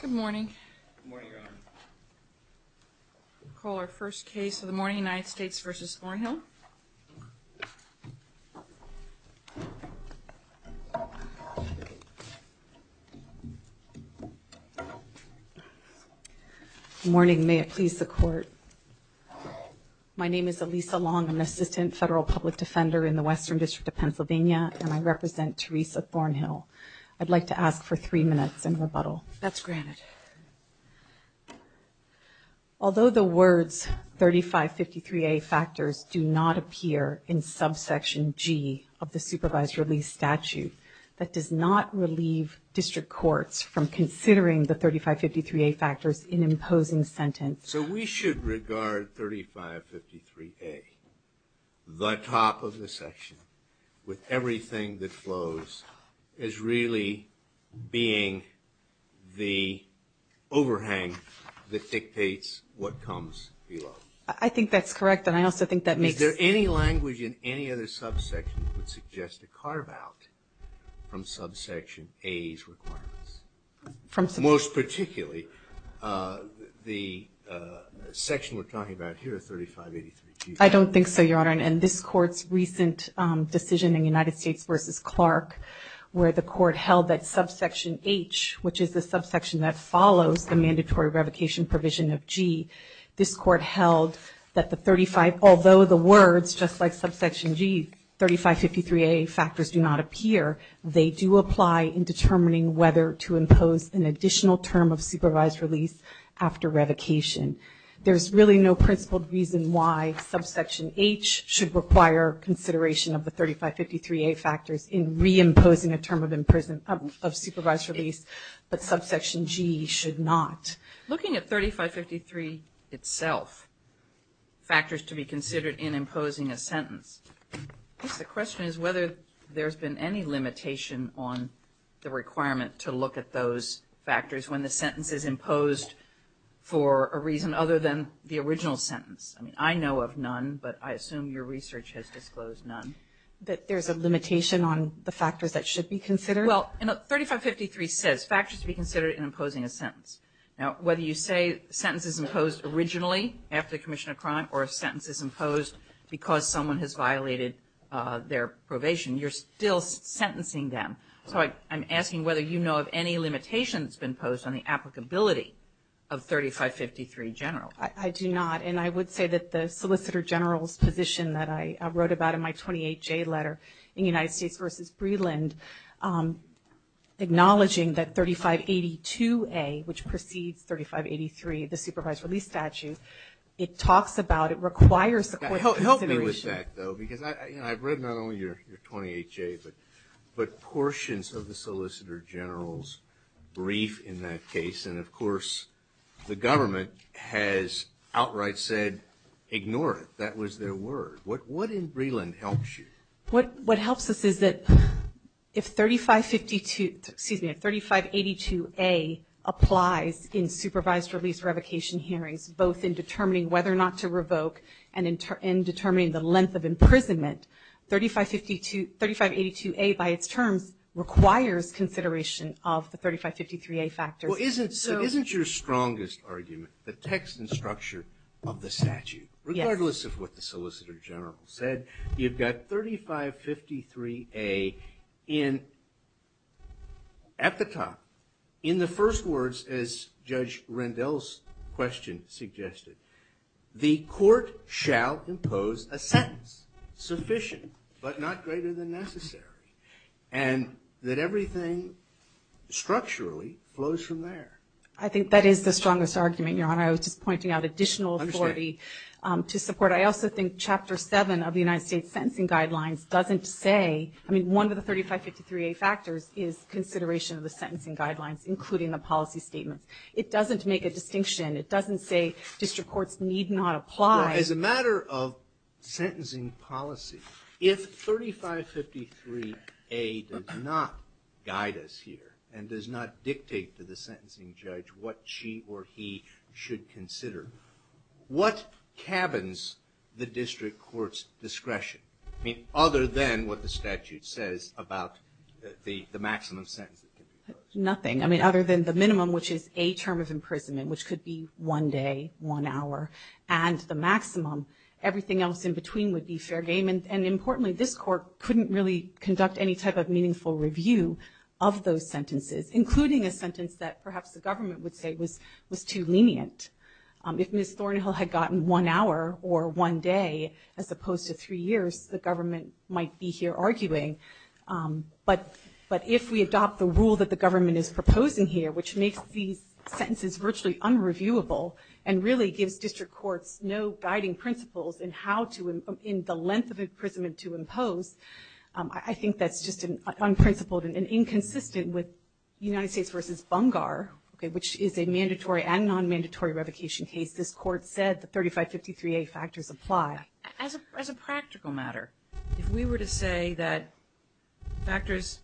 Good morning. I'll call our first case of the morning, United States v. Thornhill. Good morning. May it please the Court. My name is Elisa Long. I'm an assistant federal public defender in the Western District of Pennsylvania, and I represent Teresa Thornhill. I'd like to ask for three minutes in rebuttal. That's granted. Although the words 3553A factors do not appear in subsection G of the supervised release statute, that does not relieve district courts from considering the 3553A factors in imposing sentence. So we should regard 3553A, the top of the section with everything that flows, as really being the overhang that dictates what comes below. I think that's correct, and I also think that makes – Is there any language in any other subsection that would suggest a carve-out from subsection A's requirements? Most particularly, the section we're talking about here, 3583G. I don't think so, Your Honor. In this Court's recent decision in United States v. Clark, where the Court held that subsection H, which is the subsection that follows the mandatory revocation provision of G, this Court held that the 35 – although the words, just like subsection G, 3553A factors do not appear, they do apply in determining whether to impose an additional term of supervised release after revocation. There's really no principled reason why subsection H should require consideration of the 3553A factors in reimposing a term of supervised release, but subsection G should not. Looking at 3553 itself, factors to be considered in imposing a sentence, I guess the question is whether there's been any limitation on the requirement to look at those factors when the sentence is imposed for a reason other than the original sentence. I mean, I know of none, but I assume your research has disclosed none. That there's a limitation on the factors that should be considered? Well, 3553 says factors to be considered in imposing a sentence. Now, whether you say sentence is imposed originally after the commission of crime or a sentence is imposed because someone has violated their probation, you're still sentencing them. So I'm asking whether you know of any limitation that's been posed on the applicability of 3553 general. I do not, and I would say that the solicitor general's position that I wrote about in my 28J letter in United States v. Breland, acknowledging that 3582A, which precedes 3583, the supervised release statute, it talks about, it requires the court consideration. Help me with that, though, because I've read not only your 28J, but portions of the solicitor general's brief in that case, and of course the government has outright said, ignore it. That was their word. What in Breland helps you? What helps us is that if 3552, excuse me, if 3582A applies in supervised release revocation hearings, both in determining whether or not to revoke and in determining the length of imprisonment, 3582A by its terms requires consideration of the 3553A factors. Well, isn't your strongest argument the text and structure of the statute? Regardless of what the solicitor general said, you've got 3553A at the top. In the first words, as Judge Rendell's question suggested, the court shall impose a sentence sufficient but not greater than necessary, and that everything structurally flows from there. I think that is the strongest argument, Your Honor. I was just pointing out additional authority to support. But I also think Chapter 7 of the United States Sentencing Guidelines doesn't say, I mean, one of the 3553A factors is consideration of the sentencing guidelines, including the policy statements. It doesn't make a distinction. It doesn't say district courts need not apply. As a matter of sentencing policy, if 3553A does not guide us here and does not dictate to the sentencing judge what she or he should consider, what cabins the district court's discretion? I mean, other than what the statute says about the maximum sentence. Nothing. I mean, other than the minimum, which is a term of imprisonment, which could be one day, one hour. And the maximum, everything else in between would be fair game. And importantly, this court couldn't really conduct any type of meaningful review of those sentences, including a sentence that perhaps the government would say was too lenient. If Ms. Thornhill had gotten one hour or one day as opposed to three years, the government might be here arguing. But if we adopt the rule that the government is proposing here, which makes these sentences virtually unreviewable and really gives district courts no guiding principles in how to, in the length of imprisonment to impose, I think that's just unprincipled and inconsistent with United States v. Bungar, which is a mandatory and non-mandatory revocation case. This court said the 3553A factors apply. As a practical matter, if we were to say that factors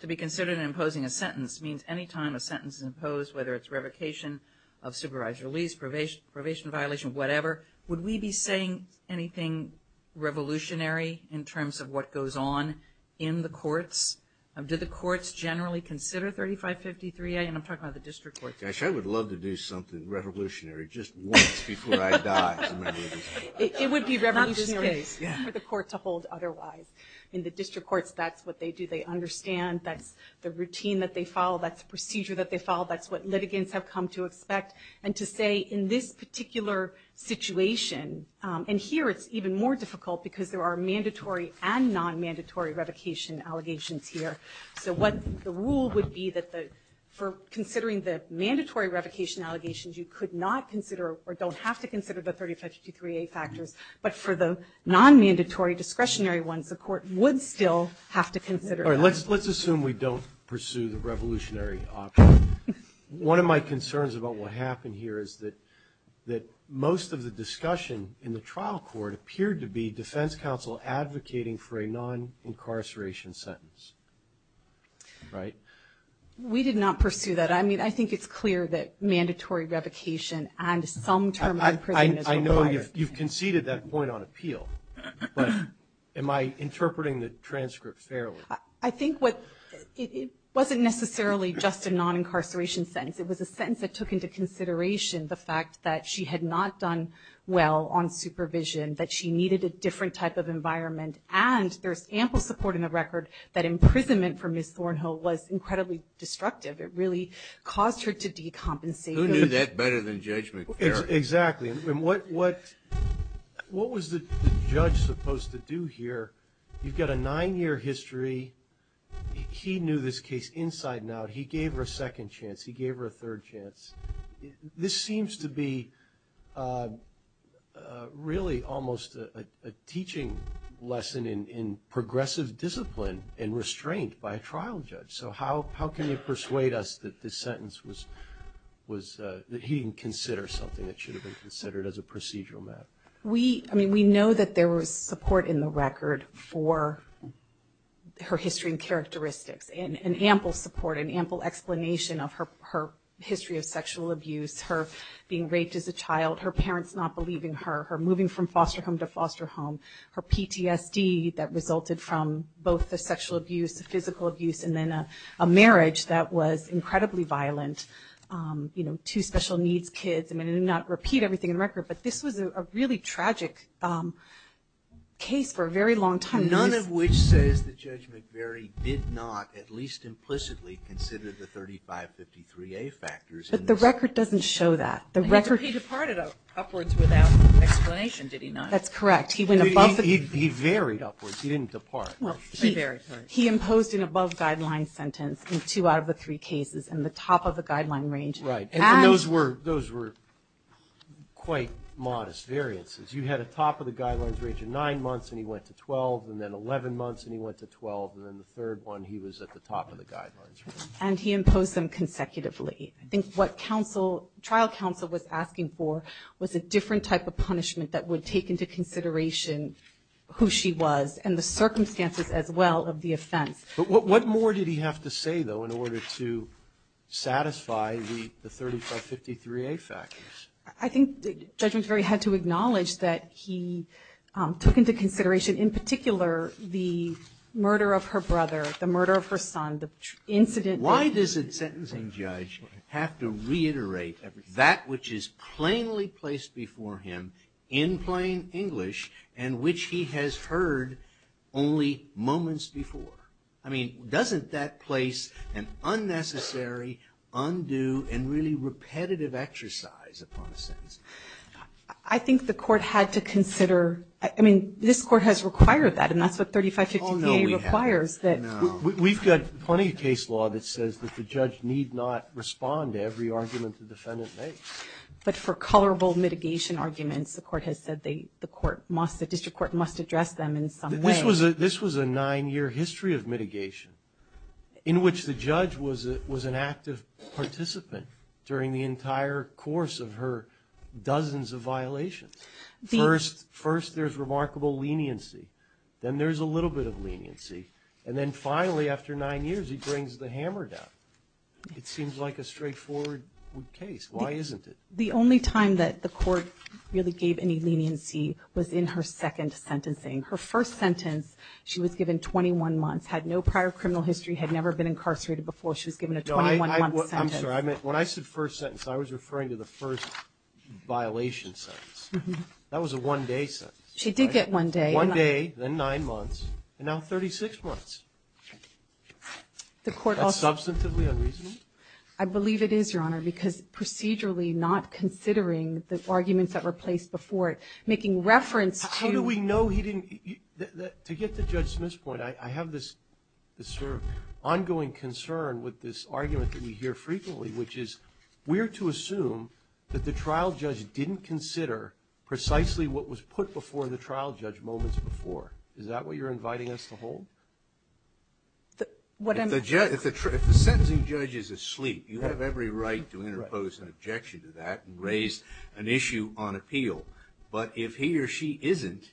to be considered in imposing a sentence means any time a sentence is imposed, whether it's revocation of supervised release, probation violation, whatever, would we be saying anything revolutionary in terms of what goes on in the courts? Do the courts generally consider 3553A? And I'm talking about the district courts. Gosh, I would love to do something revolutionary just once before I die. It would be revolutionary for the court to hold otherwise. In the district courts, that's what they do. They understand. That's the routine that they follow. That's the procedure that they follow. That's what litigants have come to expect. And to say in this particular situation, and here it's even more difficult because there are mandatory and non-mandatory revocation allegations here. So what the rule would be that for considering the mandatory revocation allegations, you could not consider or don't have to consider the 3553A factors, but for the non-mandatory discretionary ones, the court would still have to consider that. All right, let's assume we don't pursue the revolutionary option. One of my concerns about what happened here is that most of the discussion in the trial court appeared to be defense counsel advocating for a non-incarceration sentence. Right? We did not pursue that. I mean, I think it's clear that mandatory revocation and some term in prison is required. I know you've conceded that point on appeal, but am I interpreting the transcript fairly? I think it wasn't necessarily just a non-incarceration sentence. It was a sentence that took into consideration the fact that she had not done well on supervision, that she needed a different type of environment, and there's ample support in the record that imprisonment for Ms. Thornhill was incredibly destructive. It really caused her to decompensate. Who knew that better than Judge McFerrin? Exactly. And what was the judge supposed to do here? You've got a nine-year history. He knew this case inside and out. He gave her a second chance. He gave her a third chance. This seems to be really almost a teaching lesson in progressive discipline and restraint by a trial judge. So how can you persuade us that this sentence was that he didn't consider something that should have been considered as a procedural matter? We know that there was support in the record for her history and characteristics, and ample support and ample explanation of her history of sexual abuse, her being raped as a child, her parents not believing her, her moving from foster home to foster home, her PTSD that resulted from both the sexual abuse, the physical abuse, and then a marriage that was incredibly violent, two special needs kids. I'm going to not repeat everything in the record, but this was a really tragic case for a very long time. None of which says that Judge McFerrin did not at least implicitly consider the 3553A factors. But the record doesn't show that. He departed upwards without explanation, did he not? That's correct. He varied upwards. He didn't depart. He imposed an above-guideline sentence in two out of the three cases in the top of the guideline range. Right. And those were quite modest variances. You had a top-of-the-guidelines range of nine months, and he went to 12, and then 11 months, and he went to 12, and then the third one he was at the top of the guidelines range. And he imposed them consecutively. I think what trial counsel was asking for was a different type of punishment that would take into consideration who she was and the circumstances as well of the offense. But what more did he have to say, though, in order to satisfy the 3553A factors? I think Judge McFerrin had to acknowledge that he took into consideration in particular the murder of her brother, the murder of her son, the incident. Why does a sentencing judge have to reiterate that which is plainly placed before him in plain English and which he has heard only moments before? I mean, doesn't that place an unnecessary, undue, and really repetitive exercise upon a sentence? I think the Court had to consider ñ I mean, this Court has required that, and that's what 3553A requires. Oh, no, we haven't. No. We've got plenty of case law that says that the judge need not respond to every argument the defendant makes. But for colorable mitigation arguments, the District Court must address them in some way. This was a nine-year history of mitigation in which the judge was an active participant during the entire course of her dozens of violations. First, there's remarkable leniency. Then there's a little bit of leniency. And then finally, after nine years, he brings the hammer down. It seems like a straightforward case. Why isn't it? The only time that the Court really gave any leniency was in her second sentencing. Her first sentence, she was given 21 months, had no prior criminal history, had never been incarcerated before. She was given a 21-month sentence. No, I'm sorry. When I said first sentence, I was referring to the first violation sentence. That was a one-day sentence. She did get one day. One day, then nine months, and now 36 months. That's substantively unreasonable? I believe it is, Your Honor, because procedurally, not considering the arguments that were placed before it, making reference to How do we know he didn't? To get to Judge Smith's point, I have this sort of ongoing concern with this argument that we hear frequently, which is we're to assume that the trial judge didn't consider precisely what was put before the trial judge moments before. Is that what you're inviting us to hold? If the sentencing judge is asleep, you have every right to interpose an objection to that and raise an issue on appeal. But if he or she isn't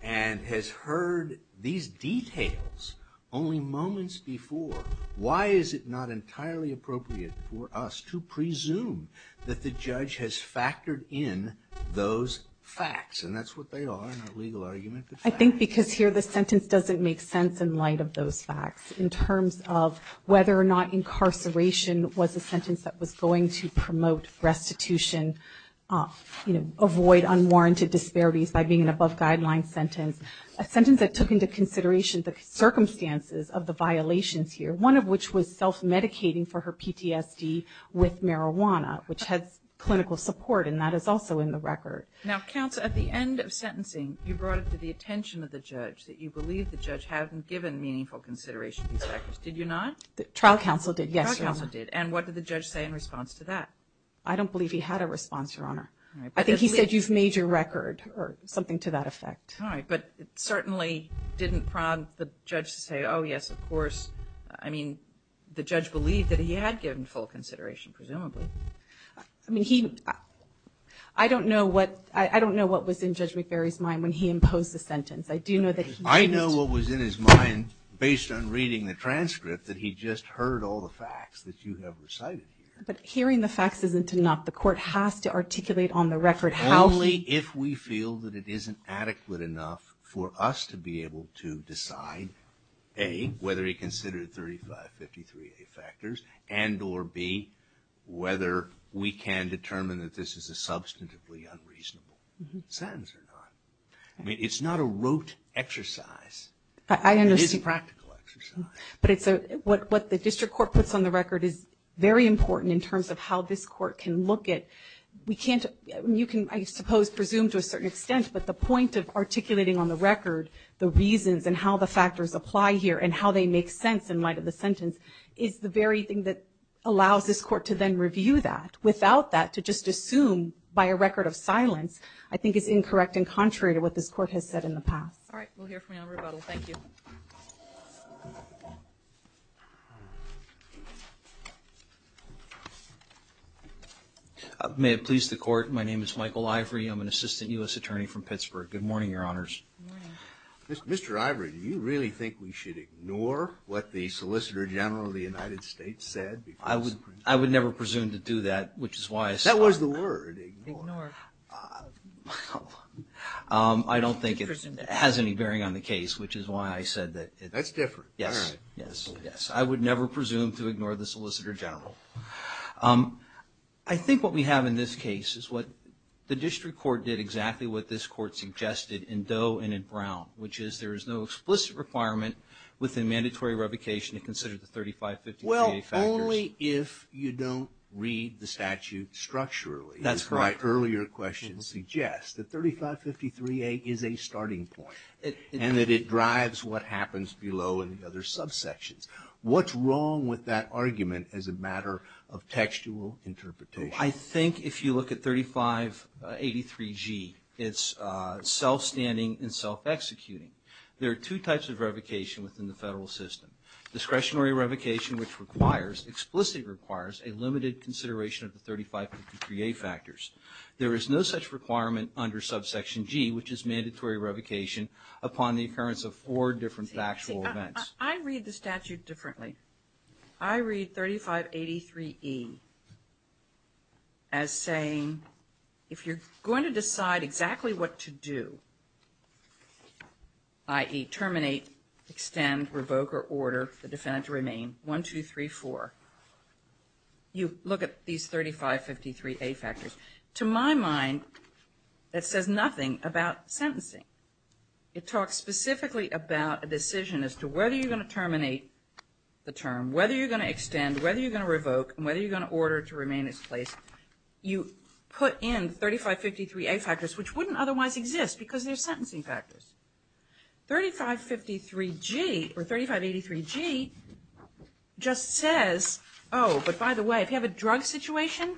and has heard these details only moments before, why is it not entirely appropriate for us to presume that the judge has factored in those facts? And that's what they are in our legal argument. I think because here the sentence doesn't make sense in light of those facts in terms of whether or not incarceration was a sentence that was going to promote restitution, avoid unwarranted disparities by being an above-guideline sentence, a sentence that took into consideration the circumstances of the violations here, one of which was self-medicating for her PTSD with marijuana, which has clinical support, and that is also in the record. Now, counsel, at the end of sentencing, you brought it to the attention of the judge that you believe the judge hadn't given meaningful consideration to these records. Did you not? The trial counsel did, yes, Your Honor. The trial counsel did. And what did the judge say in response to that? I don't believe he had a response, Your Honor. I think he said, you've made your record, or something to that effect. All right. But it certainly didn't prompt the judge to say, oh, yes, of course. I mean, the judge believed that he had given full consideration, presumably. I mean, I don't know what was in Judge McBury's mind when he imposed the sentence. I do know that he didn't. I know what was in his mind, based on reading the transcript, that he just heard all the facts that you have recited here. But hearing the facts isn't enough. The court has to articulate on the record how he. Only if we feel that it isn't adequate enough for us to be able to decide, A, whether he considered 3553A factors, and or B, whether we can determine that this is a substantively unreasonable sentence or not. I mean, it's not a rote exercise. It is a practical exercise. But what the district court puts on the record is very important in terms of how this court can look at. We can't. You can, I suppose, presume to a certain extent, but the point of articulating on the record the reasons and how the factors apply here and how they make sense in light of the sentence is the very thing that allows this court to then review that. Without that, to just assume by a record of silence, I think is incorrect and contrary to what this court has said in the past. All right. We'll hear from you on rebuttal. Thank you. May it please the court. My name is Michael Ivory. I'm an assistant U.S. attorney from Pittsburgh. Good morning, Your Honors. Good morning. Mr. Ivory, do you really think we should ignore what the Solicitor General of the United States said? I would never presume to do that, which is why I said that. That was the word, ignore. Ignore. I don't think it has any bearing on the case, which is why I said that. That's different. Yes. I would never presume to ignore the Solicitor General. I think what we have in this case is what the district court did exactly what this court suggested in Doe and in Brown, which is there is no explicit requirement within mandatory revocation to consider the 3553A factors. Well, only if you don't read the statute structurally. That's right. As my earlier question suggests. The 3553A is a starting point and that it drives what happens below in the other subsections. What's wrong with that argument as a matter of textual interpretation? I think if you look at 3583G, it's self-standing and self-executing. There are two types of revocation within the federal system. Discretionary revocation, which requires, explicitly requires a limited consideration of the 3553A factors. There is no such requirement under subsection G, which is mandatory revocation upon the occurrence of four different factual events. I read the statute differently. I read 3583E as saying, if you're going to decide exactly what to do, i.e. terminate, extend, revoke, or order the defendant to remain, 1, 2, 3, 4, you look at these 3553A factors. To my mind, that says nothing about sentencing. It talks specifically about a decision as to whether you're going to terminate the term, whether you're going to extend, whether you're going to revoke, and whether you're going to order to remain in its place. You put in 3553A factors, which wouldn't otherwise exist because they're sentencing factors. 3553G, or 3583G, just says, oh, but by the way, if you have a drug situation,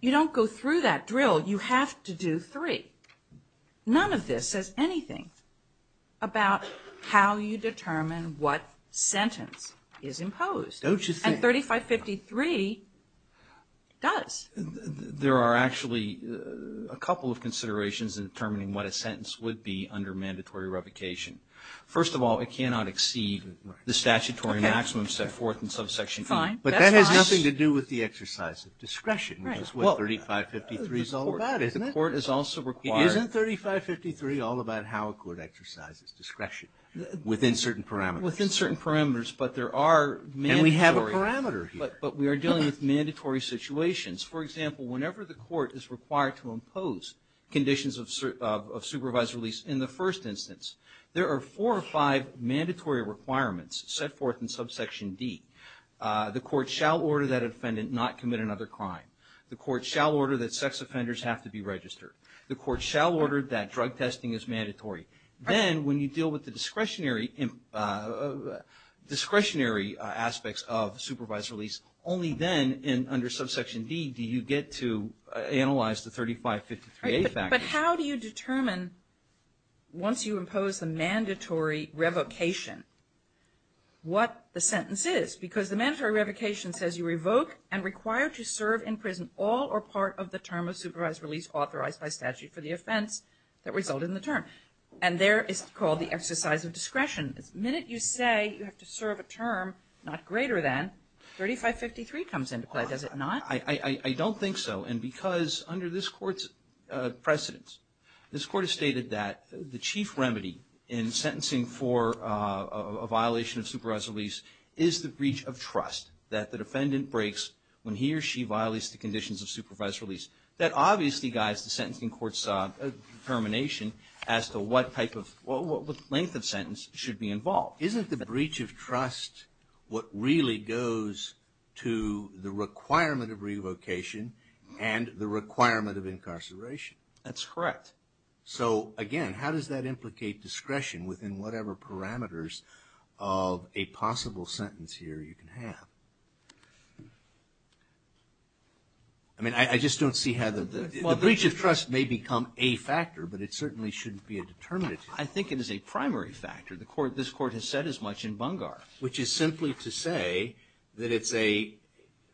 you don't go through that drill. You have to do three. None of this says anything about how you determine what sentence is imposed. Don't you think? And 3553 does. There are actually a couple of considerations in determining what a sentence would be under mandatory revocation. First of all, it cannot exceed the statutory maximum set forth in subsection E. Fine. That's fine. But that has nothing to do with the exercise of discretion, which is what 3553 is all about, isn't it? Isn't 3553 all about how a court exercises discretion? Within certain parameters. Within certain parameters, but there are mandatory. And we have a parameter here. But we are dealing with mandatory situations. For example, whenever the court is required to impose conditions of supervised release in the first instance, there are four or five mandatory requirements set forth in subsection D. The court shall order that an offendant not commit another crime. The court shall order that sex offenders have to be registered. The court shall order that drug testing is mandatory. Then when you deal with the discretionary aspects of supervised release, only then under subsection D do you get to analyze the 3553A factors. But how do you determine once you impose the mandatory revocation what the sentence is? Because the mandatory revocation says you revoke and require to serve in prison all or part of the term of supervised release authorized by statute for the offense that resulted in the term. And there is called the exercise of discretion. The minute you say you have to serve a term not greater than, 3553 comes into play. Does it not? I don't think so. And because under this court's precedence, this court has stated that the chief remedy in sentencing for a violation of supervised release is the breach of trust that the defendant breaks when he or she violates the conditions of supervised release. That obviously guides the sentencing court's determination as to what length of sentence should be involved. Isn't the breach of trust what really goes to the requirement of revocation and the requirement of incarceration? That's correct. So, again, how does that implicate discretion within whatever parameters of a possible sentence here you can have? I mean, I just don't see how the breach of trust may become a factor, but it certainly shouldn't be a determinant. I think it is a primary factor. This court has said as much in Bungar. Which is simply to say that it's a,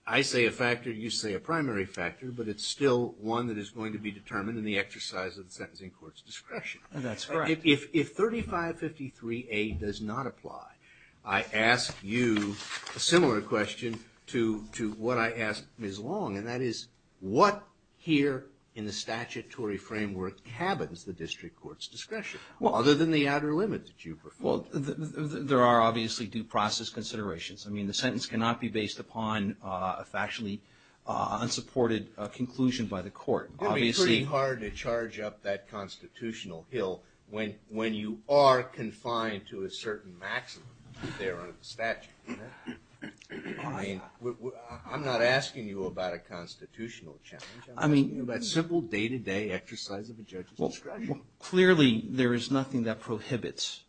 I say a factor, you say a primary factor, but it's still one that is going to be determined in the exercise of the sentencing court's discretion. That's correct. If 3553A does not apply, I ask you a similar question to what I asked Ms. Long, and that is what here in the statutory framework cabins the district court's discretion? Well, other than the outer limit that you prefer. Well, there are obviously due process considerations. I mean, the sentence cannot be based upon a factually unsupported conclusion by the court. It would be pretty hard to charge up that constitutional hill when you are confined to a certain maximum there under the statute. I mean, I'm not asking you about a constitutional challenge. I'm asking you about simple day-to-day exercise of a judge's discretion. Clearly, there is nothing that prohibits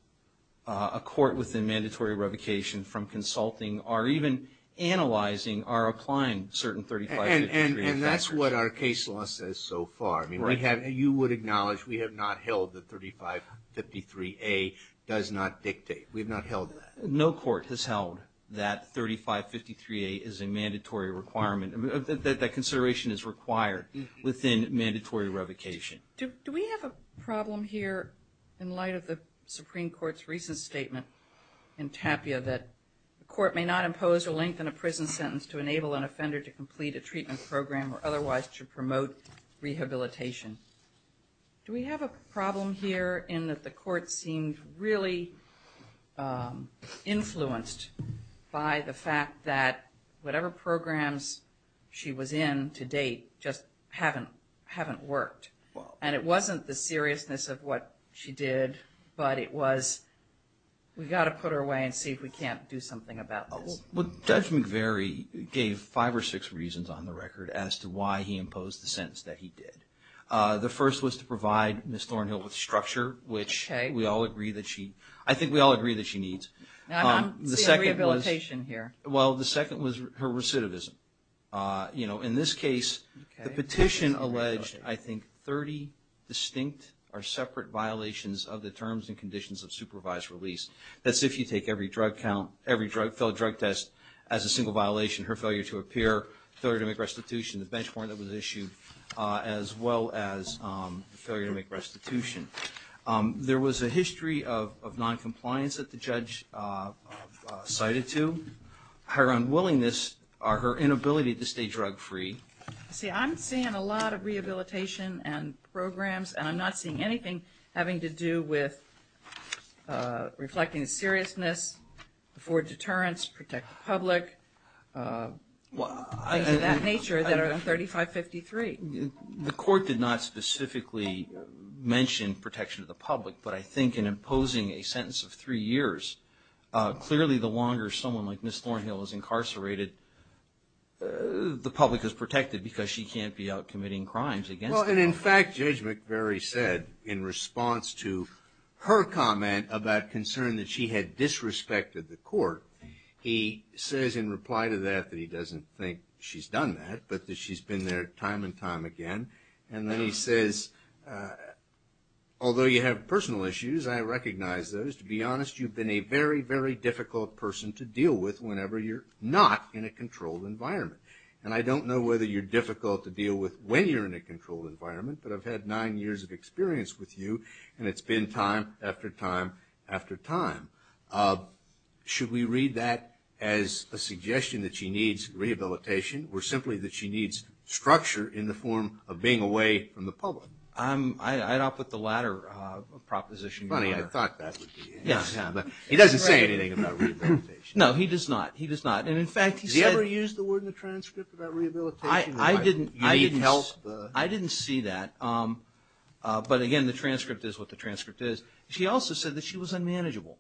a court within mandatory revocation from consulting or even analyzing or applying certain 3553A factors. And that's what our case law says so far. I mean, you would acknowledge we have not held that 3553A does not dictate. We have not held that. No court has held that 3553A is a mandatory requirement, that that consideration is required within mandatory revocation. Do we have a problem here in light of the Supreme Court's recent statement in Tapia that the court may not impose or lengthen a prison sentence to enable an offender to complete a treatment program or otherwise to promote rehabilitation? Do we have a problem here in that the court seemed really influenced by the fact that whatever programs she was in to date just haven't worked? And it wasn't the seriousness of what she did, but it was we've got to put her away and see if we can't do something about this. Judge McVeary gave five or six reasons on the record as to why he imposed the sentence that he did. The first was to provide Ms. Thornhill with structure, which we all agree that she needs. I don't see a rehabilitation here. Well, the second was her recidivism. You know, in this case, the petition alleged, I think, 30 distinct or separate violations of the terms and conditions of supervised release. That's if you take every drug count, every failed drug test as a single violation, her failure to appear, failure to make restitution, the benchmark that was issued as well as the failure to make restitution. There was a history of noncompliance that the judge cited to. Her unwillingness or her inability to stay drug free. See, I'm seeing a lot of rehabilitation and programs, and I'm not seeing anything having to do with reflecting the seriousness, afford deterrence, protect the public, things of that nature that are in 3553. The court did not specifically mention protection of the public, but I think in imposing a sentence of three years, clearly the longer someone like Ms. Thornhill is incarcerated, the public is protected because she can't be out committing crimes against them. Well, and in fact, Judge McBury said in response to her comment about concern that she had disrespected the court, he says in reply to that that he doesn't think she's done that, but that she's been there time and time again. And then he says, although you have personal issues, I recognize those. To be honest, you've been a very, very difficult person to deal with whenever you're not in a controlled environment. And I don't know whether you're difficult to deal with when you're in a controlled environment, but I've had nine years of experience with you, and it's been time after time after time. Should we read that as a suggestion that she needs rehabilitation or simply that she needs structure in the form of being away from the public? I'd opt with the latter proposition. Funny, I thought that would be it. He doesn't say anything about rehabilitation. No, he does not. He does not. Has he ever used the word in the transcript about rehabilitation? I didn't see that, but again, the transcript is what the transcript is. He also said that she was unmanageable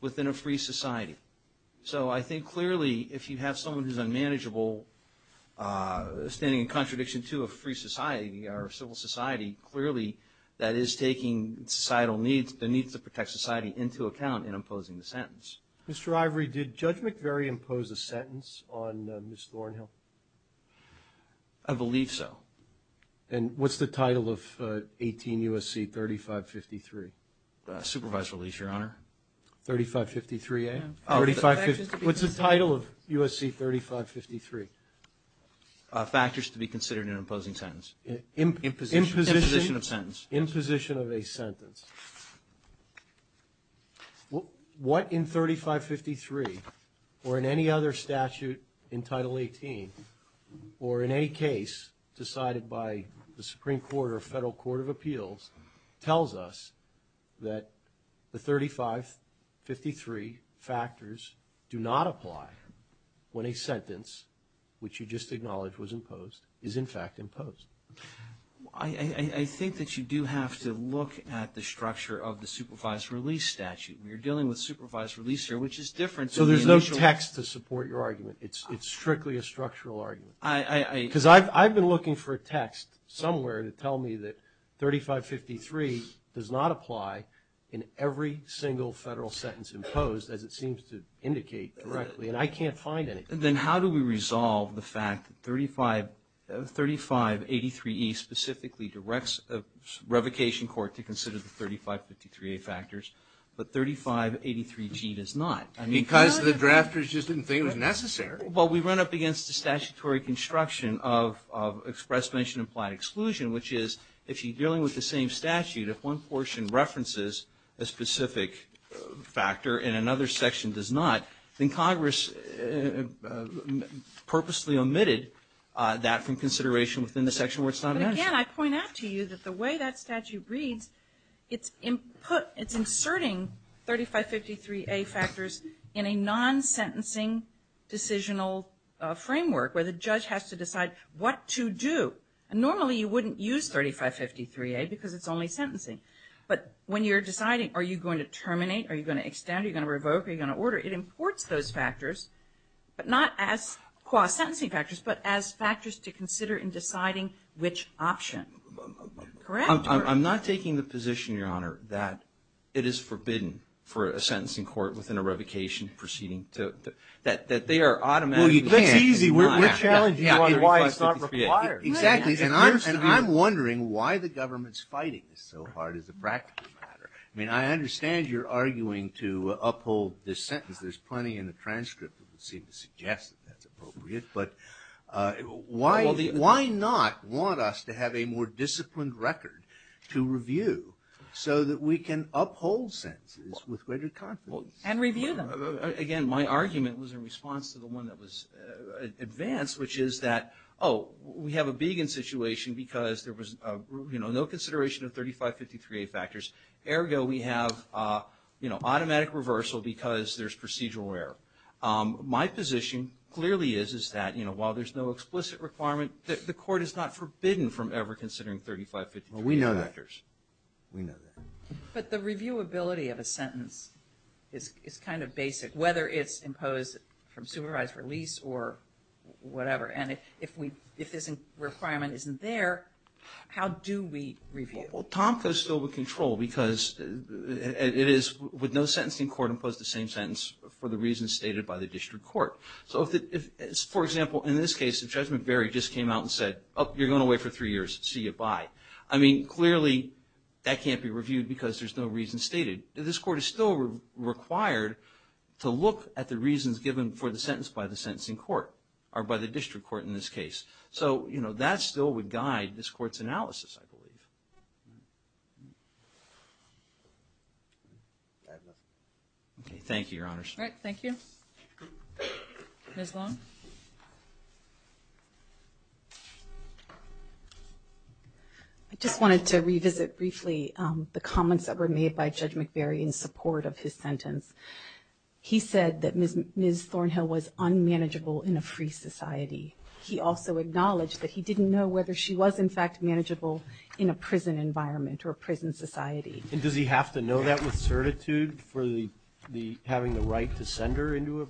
within a free society. So I think clearly if you have someone who's unmanageable, standing in contradiction to a free society or a civil society, clearly that is taking societal needs, the needs to protect society, into account in imposing the sentence. Mr. Ivory, did Judge McVery impose a sentence on Ms. Thornhill? I believe so. And what's the title of 18 U.S.C. 3553? Supervised release, Your Honor. 3553A? What's the title of U.S.C. 3553? Factors to be considered in an imposing sentence. Imposition of sentence. Imposition of a sentence. What in 3553 or in any other statute in Title 18 or in any case decided by the Supreme Court or Federal Court of Appeals tells us that the 3553 factors do not apply when a sentence, which you just acknowledged was imposed, is in fact imposed? I think that you do have to look at the structure of the supervised release statute. You're dealing with supervised release here, which is different. So there's no text to support your argument? It's strictly a structural argument? Because I've been looking for a text somewhere to tell me that 3553 does not apply in every single federal sentence imposed as it seems to indicate directly, and I can't find any. Then how do we resolve the fact that 3583E specifically directs a revocation court to consider the 3553A factors, but 3583G does not? Because the drafters just didn't think it was necessary. Well, we run up against the statutory construction of express mention implied exclusion, which is if you're dealing with the same statute, if one portion references a specific factor and another section does not, then Congress purposely omitted that from consideration within the section where it's not mentioned. But again, I point out to you that the way that statute reads, it's inserting 3553A factors in a non-sentencing decisional framework where the judge has to decide what to do. Normally you wouldn't use 3553A because it's only sentencing. But when you're deciding are you going to terminate, are you going to extend, are you going to revoke, are you going to order, it imports those factors, but not as sentencing factors, but as factors to consider in deciding which option. I'm not taking the position, Your Honor, that it is forbidden for a sentencing court within a revocation proceeding that they are automatically... Well, that's easy. We're challenging you on why it's not required. Exactly. And I'm wondering why the government's fighting this so hard as a practical matter. I mean, I understand you're arguing to uphold this sentence. There's plenty in the transcript that would seem to suggest that that's appropriate. But why not want us to have a more disciplined record to review so that we can uphold sentences with greater confidence? And review them. Again, my argument was in response to the one that was advanced, which is that, oh, we have a begin situation because there was no consideration of 3553A factors. Ergo, we have automatic reversal because there's procedural error. My position clearly is that while there's no explicit requirement, the court is not forbidden from ever considering 3553A factors. We know that. We know that. But the reviewability of a sentence is kind of basic, whether it's imposed from supervised release or whatever. And if this requirement isn't there, how do we review? Well, Tomko's still with control because it is with no sentencing court imposed the same sentence for the reasons stated by the district court. So, for example, in this case, if Judge McBury just came out and said, oh, you're going away for three years, see you, bye. I mean, clearly that can't be reviewed because there's no reason stated. This court is still required to look at the reasons given for the sentence by the sentencing court or by the district court in this case. So, you know, that still would guide this court's analysis, I believe. Thank you, Your Honors. All right. Thank you. Ms. Long. I just wanted to revisit briefly the comments that were made by Judge McBury in support of his sentence. He said that Ms. Thornhill was unmanageable in a free society. He also acknowledged that he didn't know whether she was, in fact, manageable in a prison environment or a prison society. And does he have to know that with certitude for having the right to send her into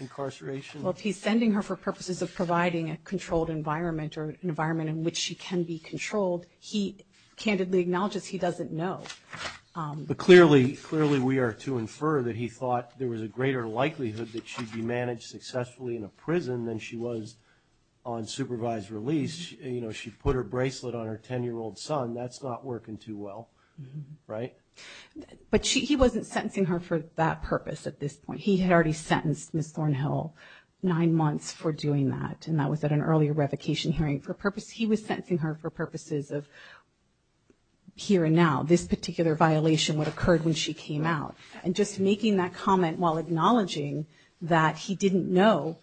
incarceration? Well, if he's sending her for purposes of providing a controlled environment or an environment in which she can be controlled, he candidly acknowledges he doesn't know. But clearly we are to infer that he thought there was a greater likelihood that she'd be managed successfully in a prison than she was on supervised release. You know, she put her bracelet on her 10-year-old son. That's not working too well, right? But he wasn't sentencing her for that purpose at this point. He had already sentenced Ms. Thornhill nine months for doing that, and that was at an earlier revocation hearing for a purpose. He was sentencing her for purposes of here and now, this particular violation, what occurred when she came out. And just making that comment while acknowledging that he didn't know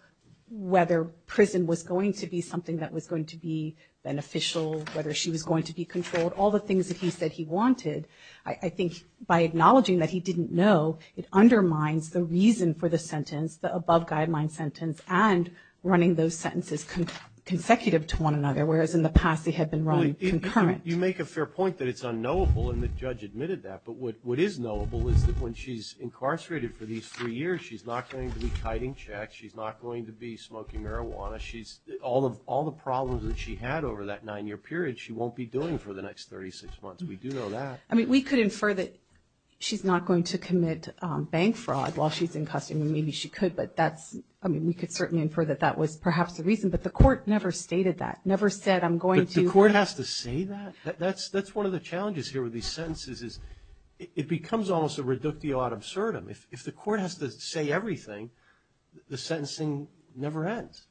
whether prison was going to be something that was going to be beneficial, whether she was going to be controlled, all the things that he said he wanted, I think by acknowledging that he didn't know, it undermines the reason for the sentence, the above-guideline sentence, and running those sentences consecutive to one another, whereas in the past they had been run concurrent. You make a fair point that it's unknowable, and the judge admitted that. But what is knowable is that when she's incarcerated for these three years, she's not going to be tithing checks, she's not going to be smoking marijuana. All the problems that she had over that nine-year period, she won't be doing for the next 36 months. We do know that. I mean, we could infer that she's not going to commit bank fraud while she's in custody. Maybe she could, but that's – I mean, we could certainly infer that that was perhaps the reason, but the court never stated that, never said, I'm going to – But the court has to say that? That's one of the challenges here with these sentences is it becomes almost a reductio ad absurdum. If the court has to say everything, the sentencing never ends.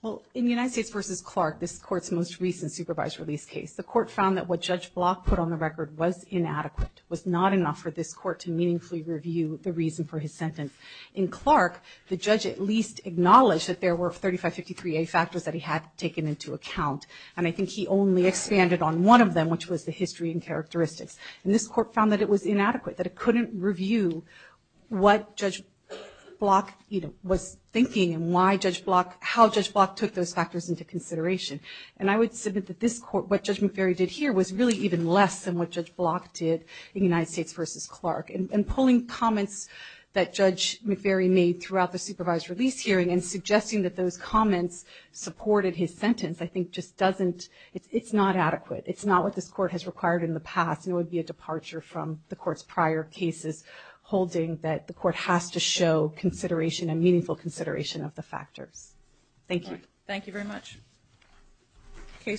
Well, in United States v. Clark, this Court's most recent supervised release case, the Court found that what Judge Block put on the record was inadequate, was not enough for this Court to meaningfully review the reason for his sentence. In Clark, the judge at least acknowledged that there were 3553A factors that he had taken into account, and I think he only expanded on one of them, which was the history and characteristics. And this Court found that it was inadequate, that it couldn't review what Judge Block was thinking and why Judge Block – how Judge Block took those factors into consideration. And I would submit that this Court, what Judge McVeary did here, was really even less than what Judge Block did in United States v. Clark. And pulling comments that Judge McVeary made throughout the supervised release hearing and suggesting that those comments supported his sentence I think just doesn't – it's not adequate. It's not what this Court has required in the past, and it would be a departure from the Court's prior cases holding that the Court has to show consideration and meaningful consideration of the factors. Thank you. Thank you very much.